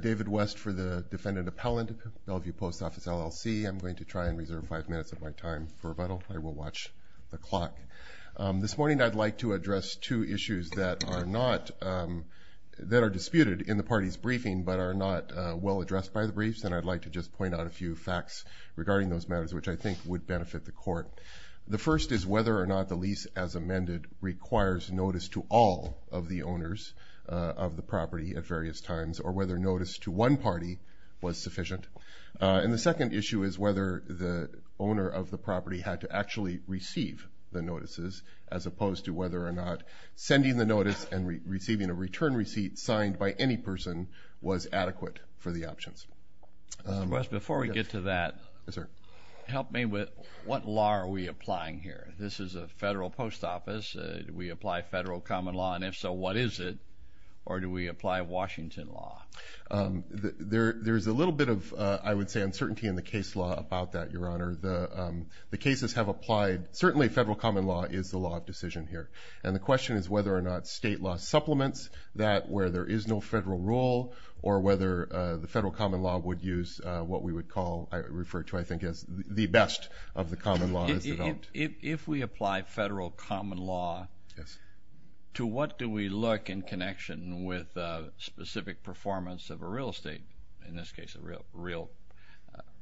David West for the defendant appellant, Bellevue Post Office, LLC. I'm going to try and reserve five minutes of my time for rebuttal. I will watch the clock. This morning I'd like to address two issues that are disputed in the party's briefing but are not well addressed by the briefs, and I'd like to just point out a few facts regarding those matters which I think would benefit the court. The first is whether or not the lease as amended requires notice to all of the owners of the property at various times or whether notice to one party was sufficient. And the second issue is whether the owner of the property had to actually receive the notices as opposed to whether or not sending the notice and receiving a return receipt signed by any person was adequate for the options. Mr. West, before we get to that, help me with what law are we applying here. This is a federal post office. Do we apply federal common law, and if so, what is it? Or do we apply Washington law? There's a little bit of, I would say, uncertainty in the case law about that, Your Honor. The cases have applied. Certainly, federal common law is the law of decision here. And the question is whether or not state law supplements that where there is no federal rule or whether the federal common law would use what we would call, I refer to, I think, as the best of the common law. If we apply federal common law, to what do we look in connection with specific performance of a real estate, in this case, a real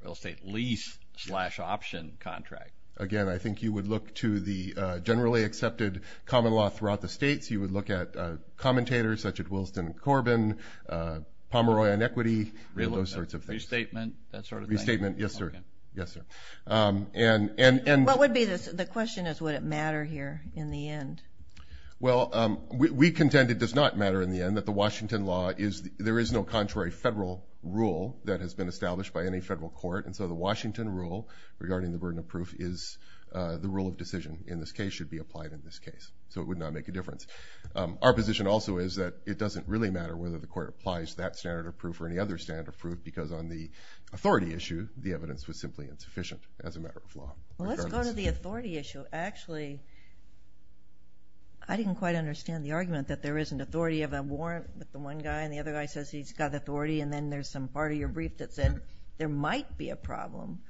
estate lease slash option contract? Again, I think you would look to the generally accepted common law throughout the states. You would look at commentators such as Wilson and Corbin, Pomeroy and Equity, those sorts of things. Restatement, that sort of thing? Restatement, yes, sir. Okay. Yes, sir. And... What would be the... The question is, would it matter here in the end? Well, we contend it does not matter in the end, that the Washington law is... There is no contrary federal rule that has been established by any federal court. And so the Washington rule regarding the burden of proof is the rule of decision in this case should be applied in this case. So it would not make a difference. Our position also is that it doesn't really matter whether the court applies that standard of proof or any other standard of proof, because on the authority issue, the evidence was simply insufficient as a matter of law. Well, let's go to the authority issue. Actually, I didn't quite understand the argument that there isn't authority of a warrant, that the one guy and the other guy says he's got authority, and then there's some part of your brief that said there might be a problem.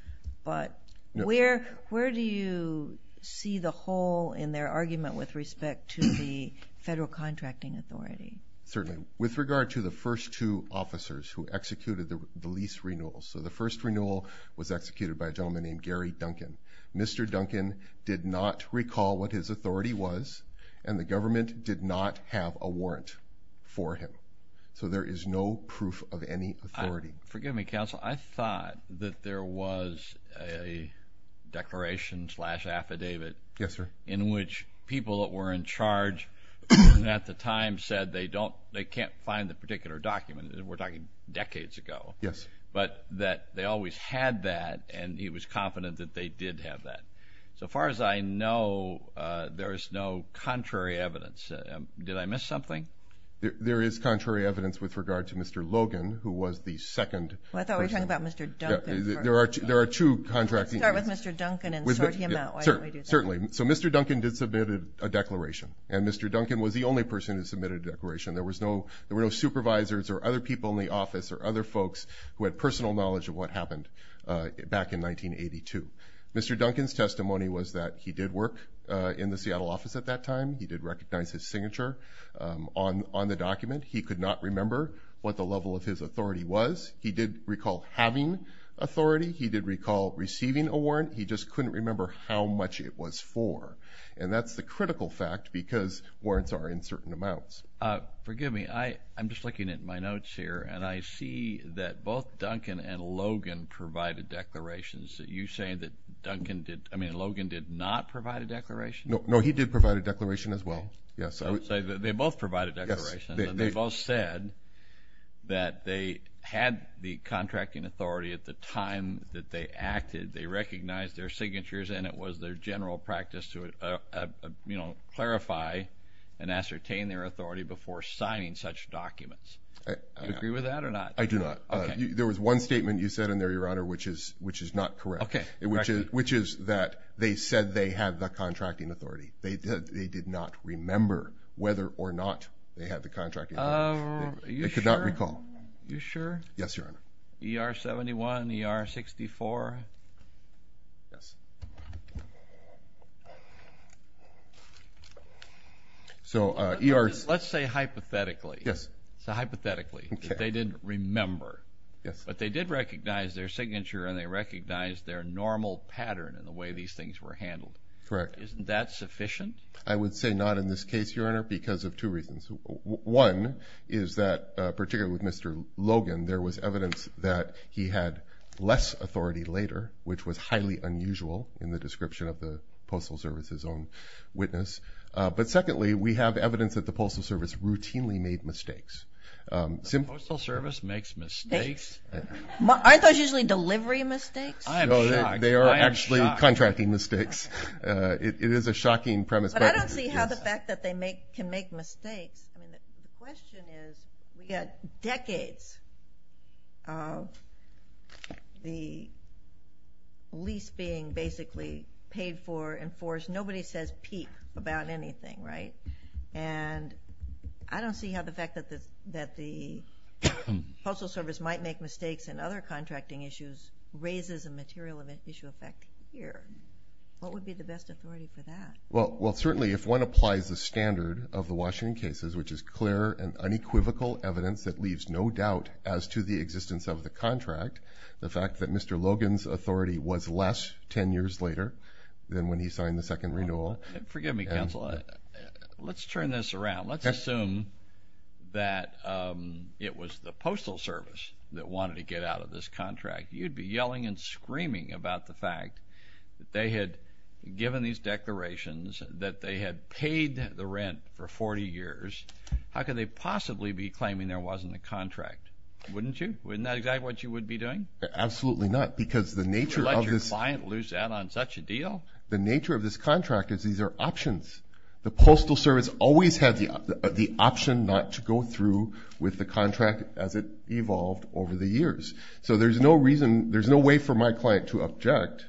But where do you see the hole in their argument with respect to the federal contracting authority? Certainly. With regard to the first two officers who executed the lease renewal. So the first renewal was executed by a gentleman named Gary Duncan. Mr. Duncan did not recall what his authority was, and the government did not have a warrant for him. So there is no proof of any authority. Forgive me, counsel. I thought that there was a declaration slash affidavit in which people that were in charge at the time said they can't find the particular document. We're talking decades ago. Yes. But that they always had that, and he was confident that they did have that. So far as I know, there is no contrary evidence. Did I miss something? There is contrary evidence with regard to Mr. Logan, who was the second person. Well, I thought we were talking about Mr. Duncan first. There are two contracting authorities. Let's start with Mr. Duncan and sort him out. Why don't we do that? Certainly. So Mr. Duncan did submit a declaration, and Mr. Duncan was the only person who submitted a declaration. There were no supervisors or other people in the office or other folks who had personal knowledge of what happened back in 1982. Mr. Duncan's testimony was that he did work in the Seattle office at that time. He did recognize his signature on the document. He could not remember what the level of his authority was. He did recall having authority. He did recall receiving a warrant. He just couldn't remember how much it was for. And that's the critical fact, because warrants are in certain amounts. Forgive me. I'm just looking at my notes here, and I see that both Duncan and Logan provided declarations. Are you saying that Duncan did – I mean, Logan did not provide a declaration? No, he did provide a declaration as well. Yes. So they both provided declarations, and they both said that they had the contracting authority at the time that they acted. They recognized their signatures, and it was their general practice to clarify and ascertain their authority before signing such documents. Do you agree with that or not? I do not. Okay. There was one statement you said in there, Your Honor, which is not correct, which is that they said they had the contracting authority. They did not remember whether or not they had the contracting authority. Are you sure? They could not recall. Are you sure? Yes, Your Honor. ER-71, ER-64? Yes. So – Let's say hypothetically. Yes. So hypothetically, that they didn't remember. Yes. But they did recognize their signature, and they recognized their normal pattern in the way these things were handled. Correct. Isn't that sufficient? I would say not in this case, Your Honor, because of two reasons. One is that, particularly with Mr. Logan, there was evidence that he had less authority later, which was highly unusual in the description of the Postal Service's own witness. But secondly, we have evidence that the Postal Service routinely made mistakes. The Postal Service makes mistakes? Aren't those usually delivery mistakes? I am shocked. They are actually contracting mistakes. It is a shocking premise. But I don't see how the fact that they can make mistakes – I mean, the question is, we had decades of the lease being basically paid for, enforced. Nobody says, peep, about anything, right? And I don't see how the fact that the Postal Service might make mistakes in other contracting issues raises a material issue effect here. What would be the best authority for that? Well, certainly, if one applies the standard of the Washington cases, which is clear and unequivocal evidence that leaves no doubt as to the existence of the contract, the fact that Mr. Logan's authority was less ten years later than when he signed the second renewal – Forgive me, counsel. Let's turn this around. Let's assume that it was the Postal Service that wanted to get out of this contract. You'd be yelling and screaming about the fact that they had given these declarations, that they had paid the rent for 40 years. How could they possibly be claiming there wasn't a contract, wouldn't you? Isn't that exactly what you would be doing? Absolutely not, because the nature of this – You'd let your client lose out on such a deal? The nature of this contract is these are options. The Postal Service always had the option not to go through with the contract as it evolved over the years. So there's no reason – there's no way for my client to object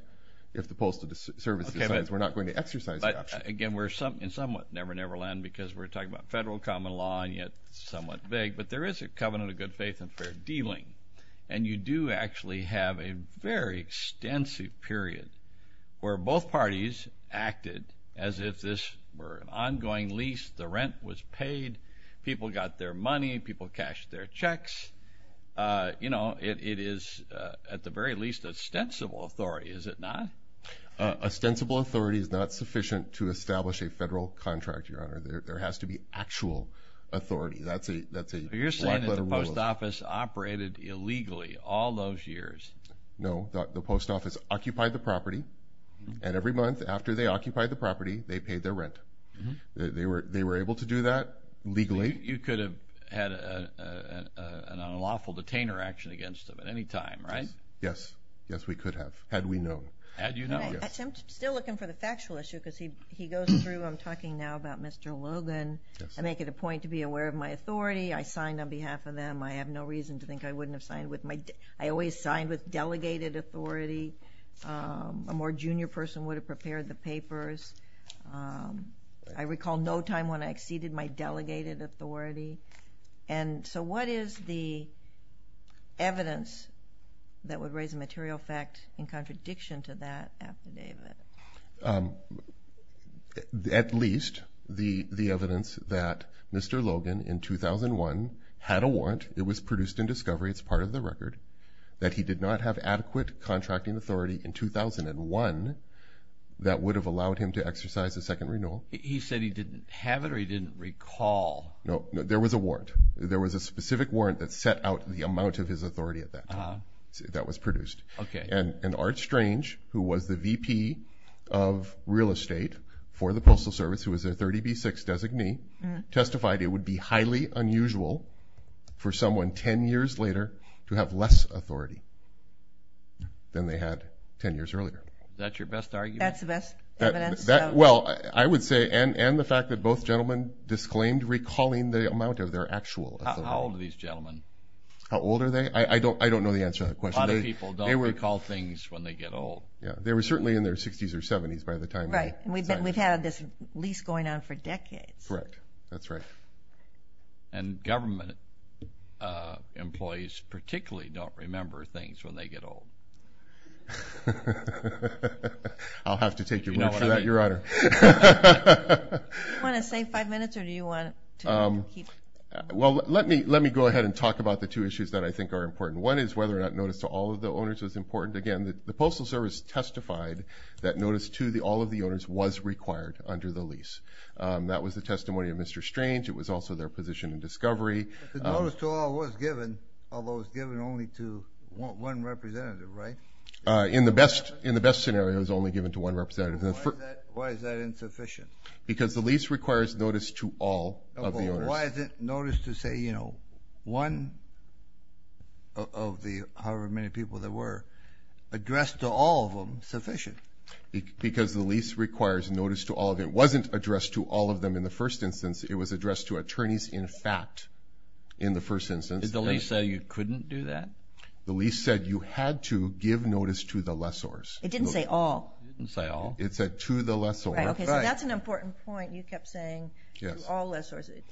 if the Postal Service decides we're not going to exercise the option. But again, we're in somewhat never-never land because we're talking about federal common law, and yet it's somewhat vague. But there is a covenant of good faith and fair dealing. And you do actually have a very extensive period where both parties acted as if this were an ongoing lease, the rent was paid, people got their money, people cashed their checks. It is, at the very least, ostensible authority, is it not? Ostensible authority is not sufficient to establish a federal contract, Your Honor. There has to be actual authority. That's a black-letter rule. You're saying that the Post Office operated illegally all those years? No. The Post Office occupied the property, and every month after they occupied the property, they paid their rent. They were able to do that legally. You could have had an unlawful detainer action against them at any time, right? Yes. Yes, we could have, had we known. Had you known. I'm still looking for the factual issue because he goes through – I'm talking now about Mr. Logan. I make it a point to be aware of my authority. I signed on behalf of them. I have no reason to think I wouldn't have signed with my – I always signed with delegated authority. A more junior person would have prepared the papers. I recall no time when I exceeded my delegated authority. So what is the evidence that would raise a material fact in contradiction to that affidavit? At least the evidence that Mr. Logan in 2001 had a warrant. It was produced in discovery. It's part of the record. That he did not have adequate contracting authority in 2001 that would have allowed him to exercise a second renewal. He said he didn't have it or he didn't recall. No, there was a warrant. There was a specific warrant that set out the amount of his authority at that time that was produced. Okay. And Art Strange, who was the VP of real estate for the Postal Service, who was their 30B6 designee, testified it would be highly unusual for someone 10 years later to have less authority than they had 10 years earlier. Is that your best argument? That's the best evidence. Well, I would say, and the fact that both gentlemen disclaimed recalling the amount of their actual authority. How old are these gentlemen? How old are they? I don't know the answer to that question. A lot of people don't recall things when they get old. Yeah. They were certainly in their 60s or 70s by the time they signed. Right. And we've had this lease going on for decades. Correct. That's right. And government employees particularly don't remember things when they get old. I'll have to take your word for that, Your Honor. Do you want to save five minutes or do you want to keep going? Well, let me go ahead and talk about the two issues that I think are important. One is whether or not notice to all of the owners was important. Again, the Postal Service testified that notice to all of the owners was required under the lease. That was the testimony of Mr. Strange. It was also their position in discovery. The notice to all was given, although it was given only to one representative, right? In the best scenario, it was only given to one representative. Why is that insufficient? Because the lease requires notice to all of the owners. But why is it notice to, say, you know, one of the however many people there were, addressed to all of them sufficient? Because the lease requires notice to all of them. It wasn't addressed to all of them in the first instance. It was addressed to attorneys in fact in the first instance. Did the lease say you couldn't do that? The lease said you had to give notice to the lessors. It didn't say all. It didn't say all. It said to the lessor. Right, okay, so that's an important point you kept saying to all lessors. It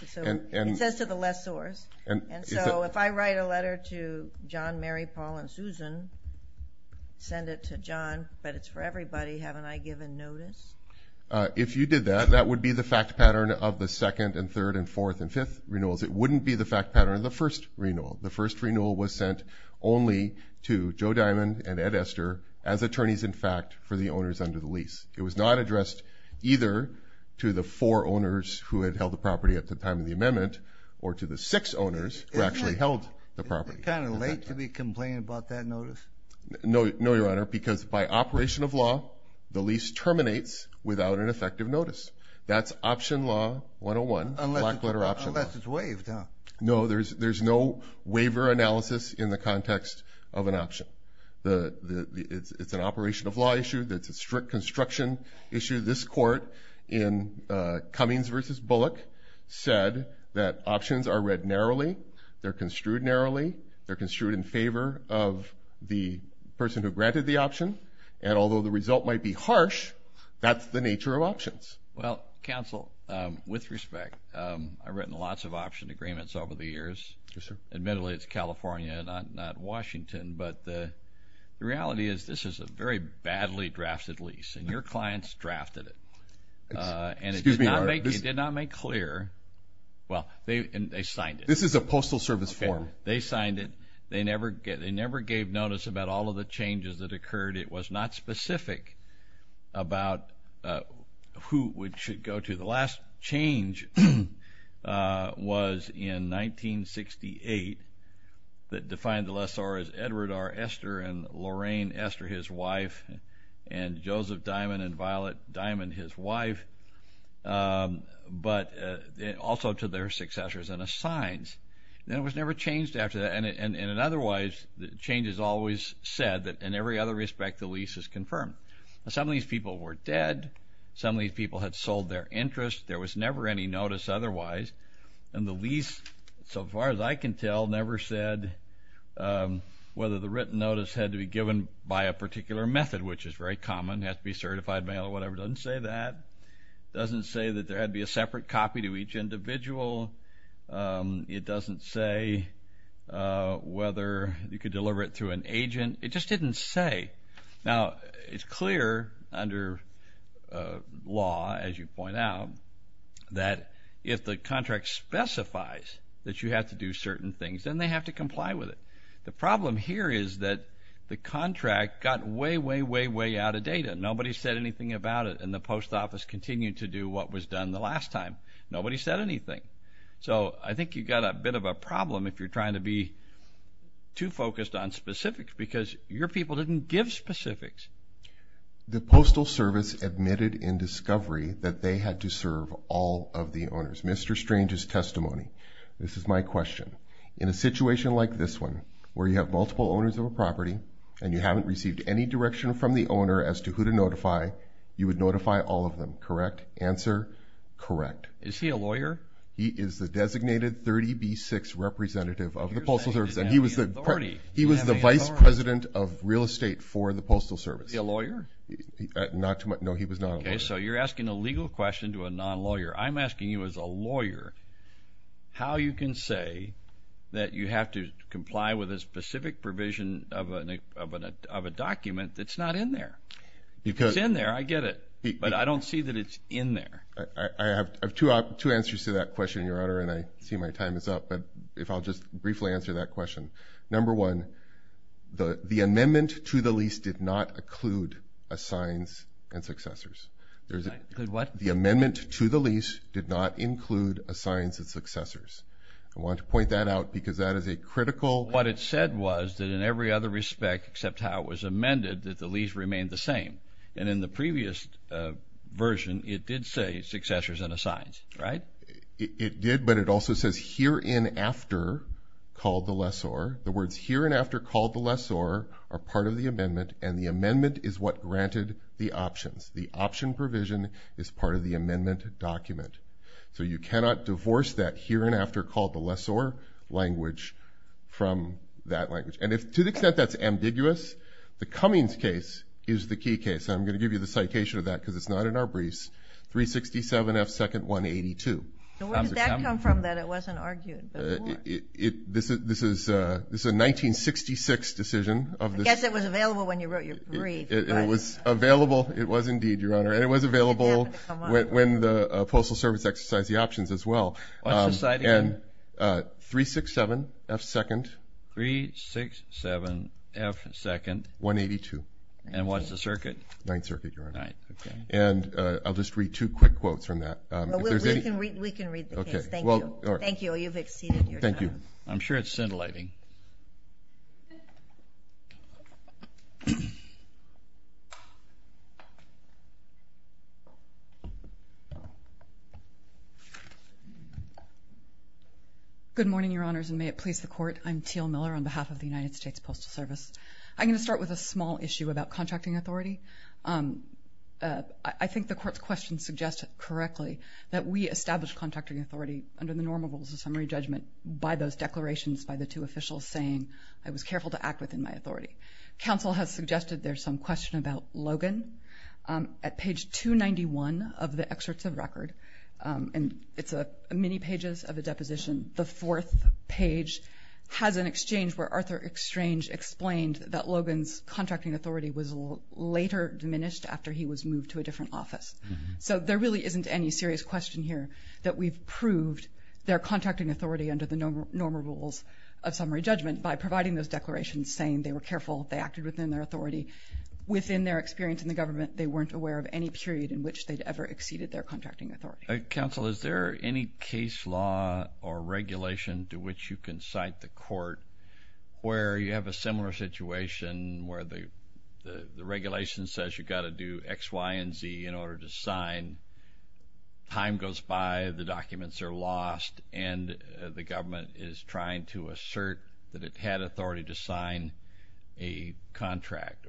says to the lessors. And so if I write a letter to John, Mary, Paul, and Susan, send it to John, but it's for everybody, haven't I given notice? If you did that, that would be the fact pattern of the second and third and fourth and fifth renewals. It wouldn't be the fact pattern of the first renewal. The first renewal was sent only to Joe Diamond and Ed Ester as attorneys in fact for the owners under the lease. It was not addressed either to the four owners who had held the property at the time of the amendment or to the six owners who actually held the property. Is it kind of late to be complaining about that notice? No, Your Honor, because by operation of law, the lease terminates without an effective notice. That's option law 101, black letter option law. Unless it's waived, huh? No, there's no waiver analysis in the context of an option. It's an operation of law issue. It's a strict construction issue. This court in Cummings v. Bullock said that options are read narrowly, they're construed narrowly, they're construed in favor of the person who granted the option, and although the result might be harsh, that's the nature of options. Well, counsel, with respect, I've written lots of option agreements over the years. Yes, sir. Admittedly, it's California, not Washington, but the reality is this is a very badly drafted lease, and your clients drafted it. Excuse me, Your Honor. And it did not make clear, well, they signed it. This is a postal service form. They signed it. They never gave notice about all of the changes that occurred. It was not specific about who it should go to. The last change was in 1968 that defined the lessor as Edward R. Ester and Lorraine Ester, his wife, and Joseph Diamond and Violet Diamond, his wife, but also to their successors and assigns. And it was never changed after that, and otherwise the change has always said that in every other respect the lease is confirmed. Some of these people were dead. Some of these people had sold their interest. There was never any notice otherwise, and the lease, so far as I can tell, never said whether the written notice had to be given by a particular method, which is very common. It has to be certified mail or whatever. It doesn't say that. It doesn't say that there had to be a separate copy to each individual. It doesn't say whether you could deliver it through an agent. It just didn't say. Now, it's clear under law, as you point out, that if the contract specifies that you have to do certain things, then they have to comply with it. The problem here is that the contract got way, way, way, way out of data. Nobody said anything about it, and the post office continued to do what was done the last time. Nobody said anything. So I think you've got a bit of a problem if you're trying to be too focused on specifics because your people didn't give specifics. The Postal Service admitted in discovery that they had to serve all of the owners. Mr. Strange's testimony. This is my question. In a situation like this one, where you have multiple owners of a property and you haven't received any direction from the owner as to who to notify, you would notify all of them, correct? Answer, correct. Is he a lawyer? He is the designated 30B6 representative of the Postal Service, and he was the vice president of real estate for the Postal Service. Is he a lawyer? No, he was not a lawyer. Okay, so you're asking a legal question to a non-lawyer. I'm asking you as a lawyer how you can say that you have to comply with a specific provision of a document that's not in there. It's in there. I get it. But I don't see that it's in there. I have two answers to that question, Your Honor, and I see my time is up. But if I'll just briefly answer that question. Number one, the amendment to the lease did not include assigns and successors. It did what? The amendment to the lease did not include assigns and successors. I want to point that out because that is a critical. What it said was that in every other respect except how it was amended, that the lease remained the same. And in the previous version, it did say successors and assigns, right? It did, but it also says hereinafter called the lessor. The words hereinafter called the lessor are part of the amendment, and the amendment is what granted the options. The option provision is part of the amendment document. So you cannot divorce that hereinafter called the lessor language from that language. And to the extent that's ambiguous, the Cummings case is the key case. And I'm going to give you the citation of that because it's not in our briefs. 367F2-182. So where did that come from that it wasn't argued? This is a 1966 decision. I guess it was available when you wrote your brief. It was available. It was indeed, Your Honor. And it was available when the Postal Service exercised the options as well. And 367F2-182. And what's the circuit? Ninth Circuit, Your Honor. And I'll just read two quick quotes from that. We can read the case. Thank you. You've exceeded your time. Thank you. I'm sure it's scintillating. Good morning, Your Honors, and may it please the Court. I'm Teal Miller on behalf of the United States Postal Service. I'm going to start with a small issue about contracting authority. I think the Court's question suggests correctly that we established contracting authority under the normal rules of summary judgment by those declarations by the two officials saying, I was careful to act within my authority. Counsel has suggested there's some question about Logan. At page 291 of the excerpts of record, and it's many pages of a deposition, the fourth page has an exchange where Arthur Strange explained that Logan's contracting authority was later diminished after he was moved to a different office. So there really isn't any serious question here that we've proved their contracting authority under the normal rules of summary judgment by providing those declarations saying they were careful, they acted within their authority. Within their experience in the government, they weren't aware of any period in which they'd ever exceeded their contracting authority. Counsel, is there any case law or regulation to which you can cite the Court where you have a similar situation where the regulation says you've got to do X, Y, and Z in order to sign, time goes by, the documents are lost, and the government is trying to assert that it had authority to sign a contract.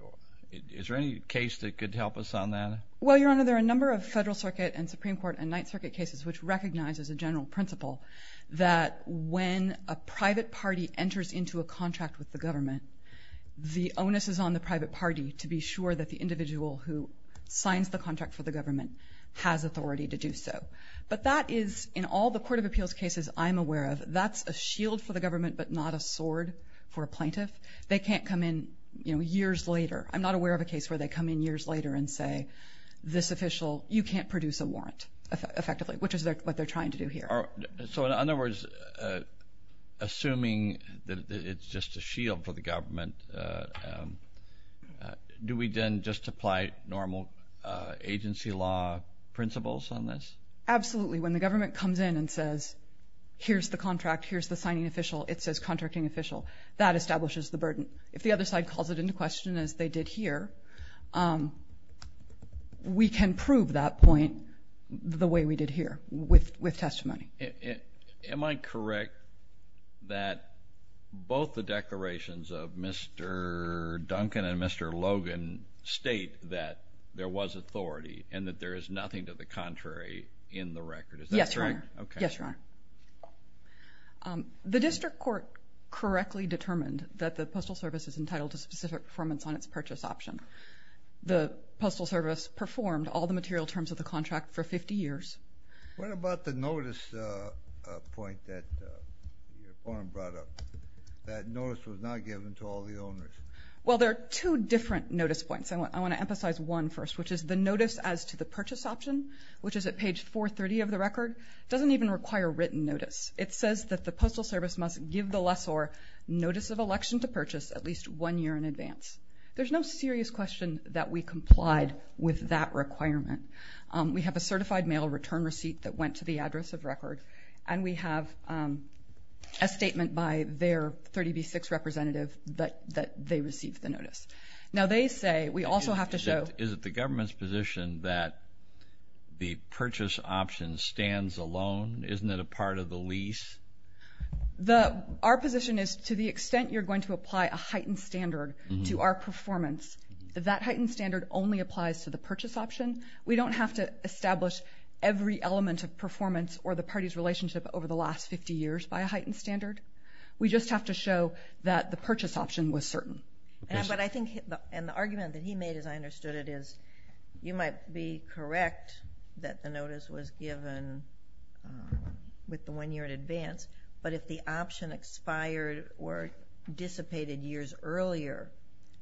Is there any case that could help us on that? Well, Your Honor, there are a number of Federal Circuit and Supreme Court and Ninth Circuit cases which recognize as a general principle that when a private party enters into a contract with the government, the onus is on the private party to be sure that the individual who signs the contract for the government has authority to do so. But that is in all the Court of Appeals cases I'm aware of, that's a shield for the government but not a sword for a plaintiff. They can't come in years later. I'm not aware of a case where they come in years later and say, this official, you can't produce a warrant effectively, which is what they're trying to do here. So in other words, assuming that it's just a shield for the government, do we then just apply normal agency law principles on this? Absolutely. When the government comes in and says, here's the contract, here's the signing official, it says contracting official, that establishes the burden. If the other side calls it into question as they did here, we can prove that point the way we did here with testimony. Am I correct that both the declarations of Mr. Duncan and Mr. Logan state that there was authority and that there is nothing to the contrary in the record? Yes, Your Honor. The district court correctly determined that the Postal Service is entitled to specific performance on its purchase option. The Postal Service performed all the material terms of the contract for 50 years. What about the notice point that Your Honor brought up, that notice was not given to all the owners? Well, there are two different notice points. I want to emphasize one first, which is the notice as to the purchase option, which is at page 430 of the record, doesn't even require written notice. It says that the Postal Service must give the lessor notice of election to purchase at least one year in advance. There's no serious question that we complied with that requirement. We have a certified mail return receipt that went to the address of record, and we have a statement by their 30B6 representative that they received the notice. Now, they say we also have to show. Is it the government's position that the purchase option stands alone? Isn't it a part of the lease? Our position is to the extent you're going to apply a heightened standard to our performance, that that heightened standard only applies to the purchase option. We don't have to establish every element of performance or the party's relationship over the last 50 years by a heightened standard. We just have to show that the purchase option was certain. But I think, and the argument that he made, as I understood it, is you might be correct that the notice was given with the one year in advance, but if the option expired or dissipated years earlier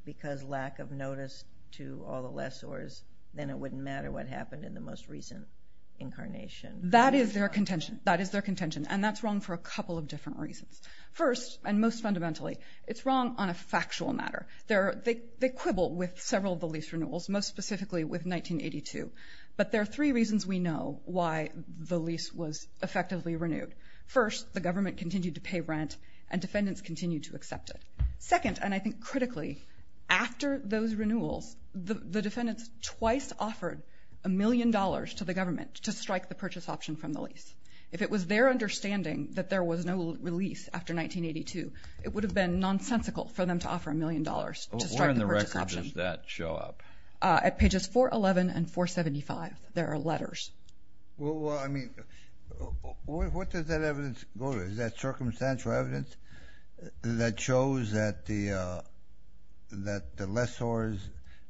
because lack of notice to all the lessors, then it wouldn't matter what happened in the most recent incarnation. That is their contention, and that's wrong for a couple of different reasons. First, and most fundamentally, it's wrong on a factual matter. They quibble with several of the lease renewals, most specifically with 1982, but there are three reasons we know why the lease was effectively renewed. First, the government continued to pay rent and defendants continued to accept it. Second, and I think critically, after those renewals, the defendants twice offered a million dollars to the government to strike the purchase option from the lease. If it was their understanding that there was no release after 1982, it would have been nonsensical for them to offer a million dollars to strike the purchase option. Where in the record does that show up? At pages 411 and 475, there are letters. Well, I mean, what does that evidence go to? Is that circumstantial evidence that shows that the lessors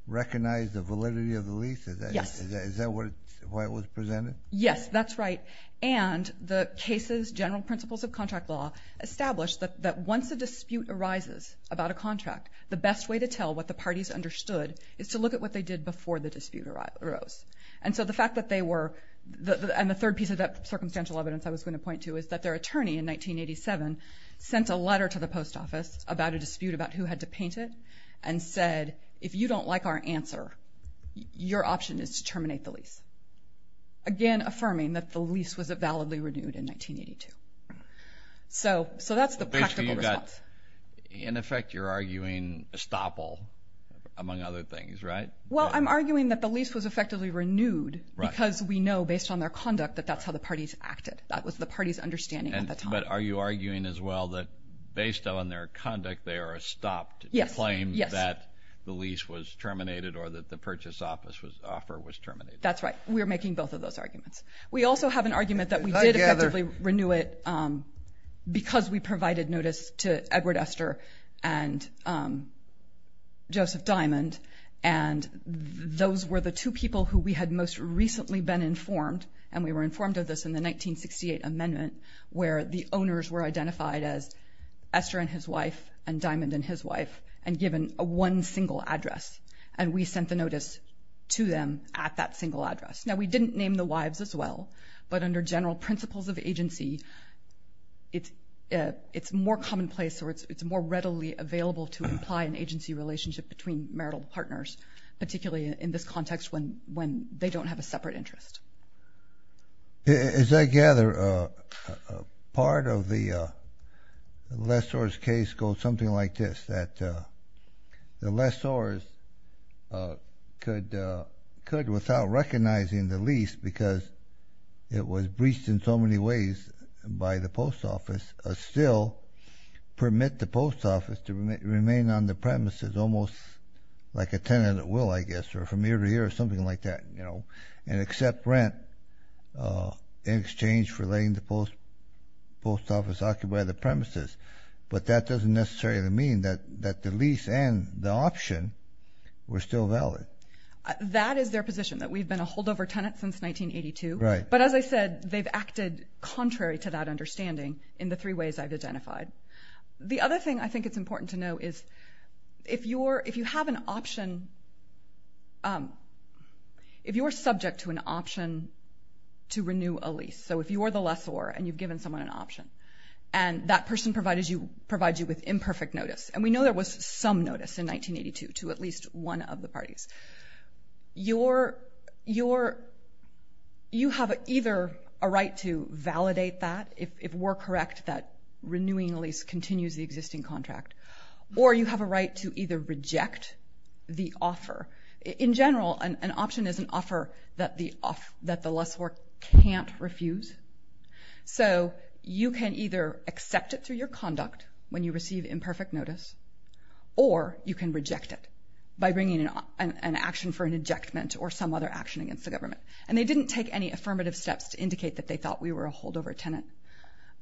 recognized the validity of the lease? Yes. Is that why it was presented? Yes, that's right, and the cases, general principles of contract law, established that once a dispute arises about a contract, the best way to tell what the parties understood is to look at what they did before the dispute arose. And so the fact that they were, and the third piece of that circumstantial evidence I was going to point to is that their attorney in 1987 sent a letter to the post office about a dispute about who had to paint it and said, if you don't like our answer, your option is to terminate the lease. Again, affirming that the lease was validly renewed in 1982. So that's the practical response. In effect, you're arguing estoppel, among other things, right? Well, I'm arguing that the lease was effectively renewed because we know, based on their conduct, that that's how the parties acted. That was the parties' understanding at the time. But are you arguing as well that, based on their conduct, they are estopped to claim that the lease was terminated or that the purchase offer was terminated? That's right. We are making both of those arguments. We also have an argument that we did effectively renew it because we provided notice to Edward Esther and Joseph Diamond, and those were the two people who we had most recently been informed, and we were informed of this in the 1968 amendment, where the owners were identified as Esther and his wife and Diamond and his wife and given one single address, and we sent the notice to them at that single address. Now, we didn't name the wives as well, but under general principles of agency, it's more commonplace or it's more readily available to imply an agency relationship between marital partners, particularly in this context when they don't have a separate interest. As I gather, part of the lessors' case goes something like this, that the lessors could, without recognizing the lease, because it was breached in so many ways by the post office, still permit the post office to remain on the premises almost like a tenant will, I guess, or from year to year or something like that and accept rent in exchange for letting the post office occupy the premises, but that doesn't necessarily mean that the lease and the option were still valid. That is their position, that we've been a holdover tenant since 1982, but as I said, they've acted contrary to that understanding in the three ways I've identified. The other thing I think it's important to know is if you have an option, if you are subject to an option to renew a lease, so if you are the lessor and you've given someone an option and that person provides you with imperfect notice, and we know there was some notice in 1982 to at least one of the parties, you have either a right to validate that, if we're correct, that renewing a lease continues the existing contract, or you have a right to either reject the offer. In general, an option is an offer that the lessor can't refuse. So you can either accept it through your conduct when you receive imperfect notice or you can reject it by bringing an action for an ejectment or some other action against the government, and they didn't take any affirmative steps to indicate that they thought we were a holdover tenant,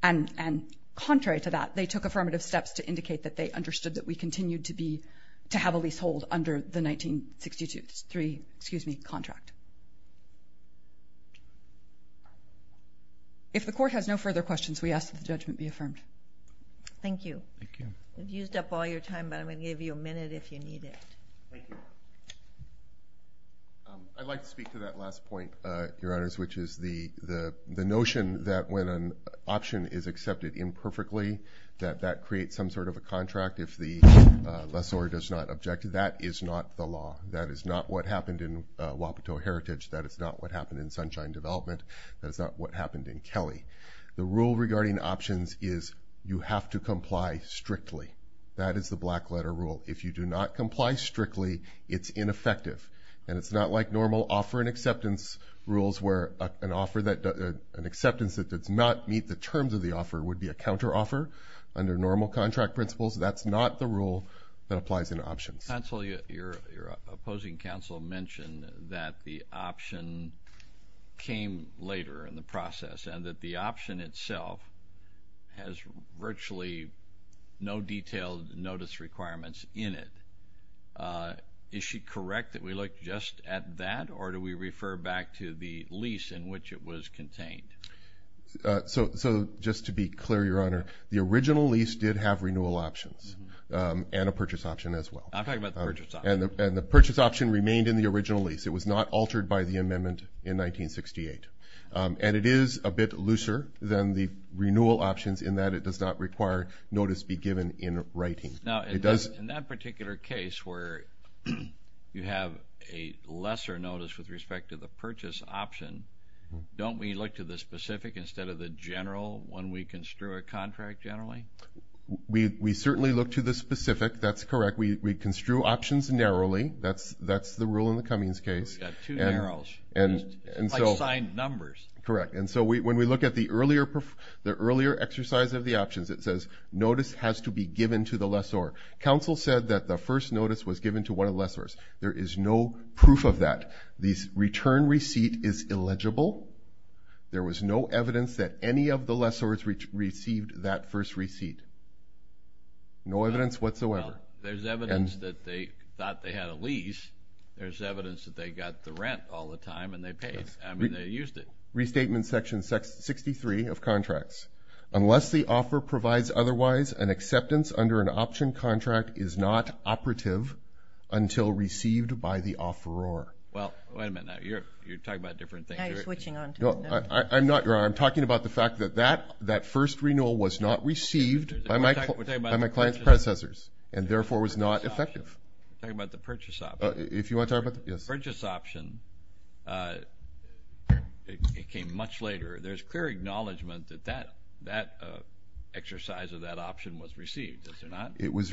and contrary to that, they took affirmative steps to indicate that they understood that we continued to have a leasehold under the 1963 contract. If the Court has no further questions, we ask that the judgment be affirmed. Thank you. You've used up all your time, but I'm going to give you a minute if you need it. Thank you. I'd like to speak to that last point, Your Honors, which is the notion that when an option is accepted imperfectly, that that creates some sort of a contract if the lessor does not object. That is not the law. That is not what happened in Wapato Heritage. That is not what happened in Sunshine Development. That is not what happened in Kelly. The rule regarding options is you have to comply strictly. That is the black-letter rule. If you do not comply strictly, it's ineffective, and it's not like normal offer and acceptance rules where an acceptance that does not meet the terms of the offer would be a counteroffer under normal contract principles. That's not the rule that applies in options. Counsel, your opposing counsel mentioned that the option came later in the process and that the option itself has virtually no detailed notice requirements in it. Is she correct that we look just at that, or do we refer back to the lease in which it was contained? So just to be clear, Your Honor, the original lease did have renewal options and a purchase option as well. I'm talking about the purchase option. And the purchase option remained in the original lease. It was not altered by the amendment in 1968. And it is a bit looser than the renewal options in that it does not require notice be given in writing. Now, in that particular case where you have a lesser notice with respect to the purchase option, don't we look to the specific instead of the general when we construe a contract generally? We certainly look to the specific. That's correct. We construe options narrowly. That's the rule in the Cummings case. We've got two narrows. It's like signed numbers. Correct. And so when we look at the earlier exercise of the options, it says notice has to be given to the lessor. Counsel said that the first notice was given to one of the lessors. There is no proof of that. The return receipt is illegible. There was no evidence that any of the lessors received that first receipt. No evidence whatsoever. There's evidence that they thought they had a lease. There's evidence that they got the rent all the time and they paid. I mean, they used it. Restatement section 63 of contracts. Unless the offer provides otherwise, an acceptance under an option contract is not operative until received by the offeror. Well, wait a minute. You're talking about different things. I'm not. I'm talking about the fact that that first renewal was not received by my client's predecessors and, therefore, was not effective. We're talking about the purchase option. If you want to talk about that, yes. The purchase option, it came much later. There's clear acknowledgment that that exercise of that option was received. Is there not? It was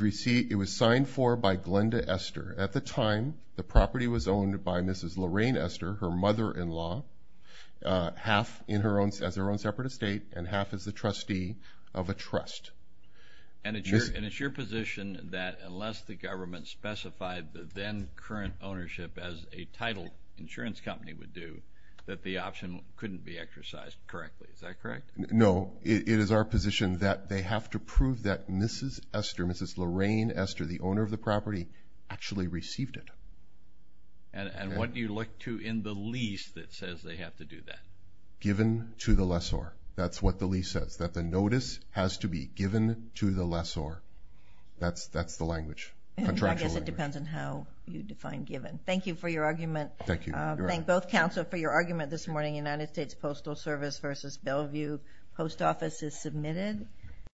signed for by Glenda Esther. At the time, the property was owned by Mrs. Lorraine Esther, her mother-in-law, half as her own separate estate and half as the trustee of a trust. And it's your position that unless the government specified the then current ownership as a title insurance company would do, that the option couldn't be exercised correctly. Is that correct? No. It is our position that they have to prove that Mrs. Esther, Glenda Esther, the owner of the property, actually received it. And what do you look to in the lease that says they have to do that? Given to the lessor. That's what the lease says, that the notice has to be given to the lessor. That's the language, contractual language. I guess it depends on how you define given. Thank you for your argument. Thank you. Thank both counsel for your argument this morning, United States Postal Service versus Bellevue Post Office is submitted.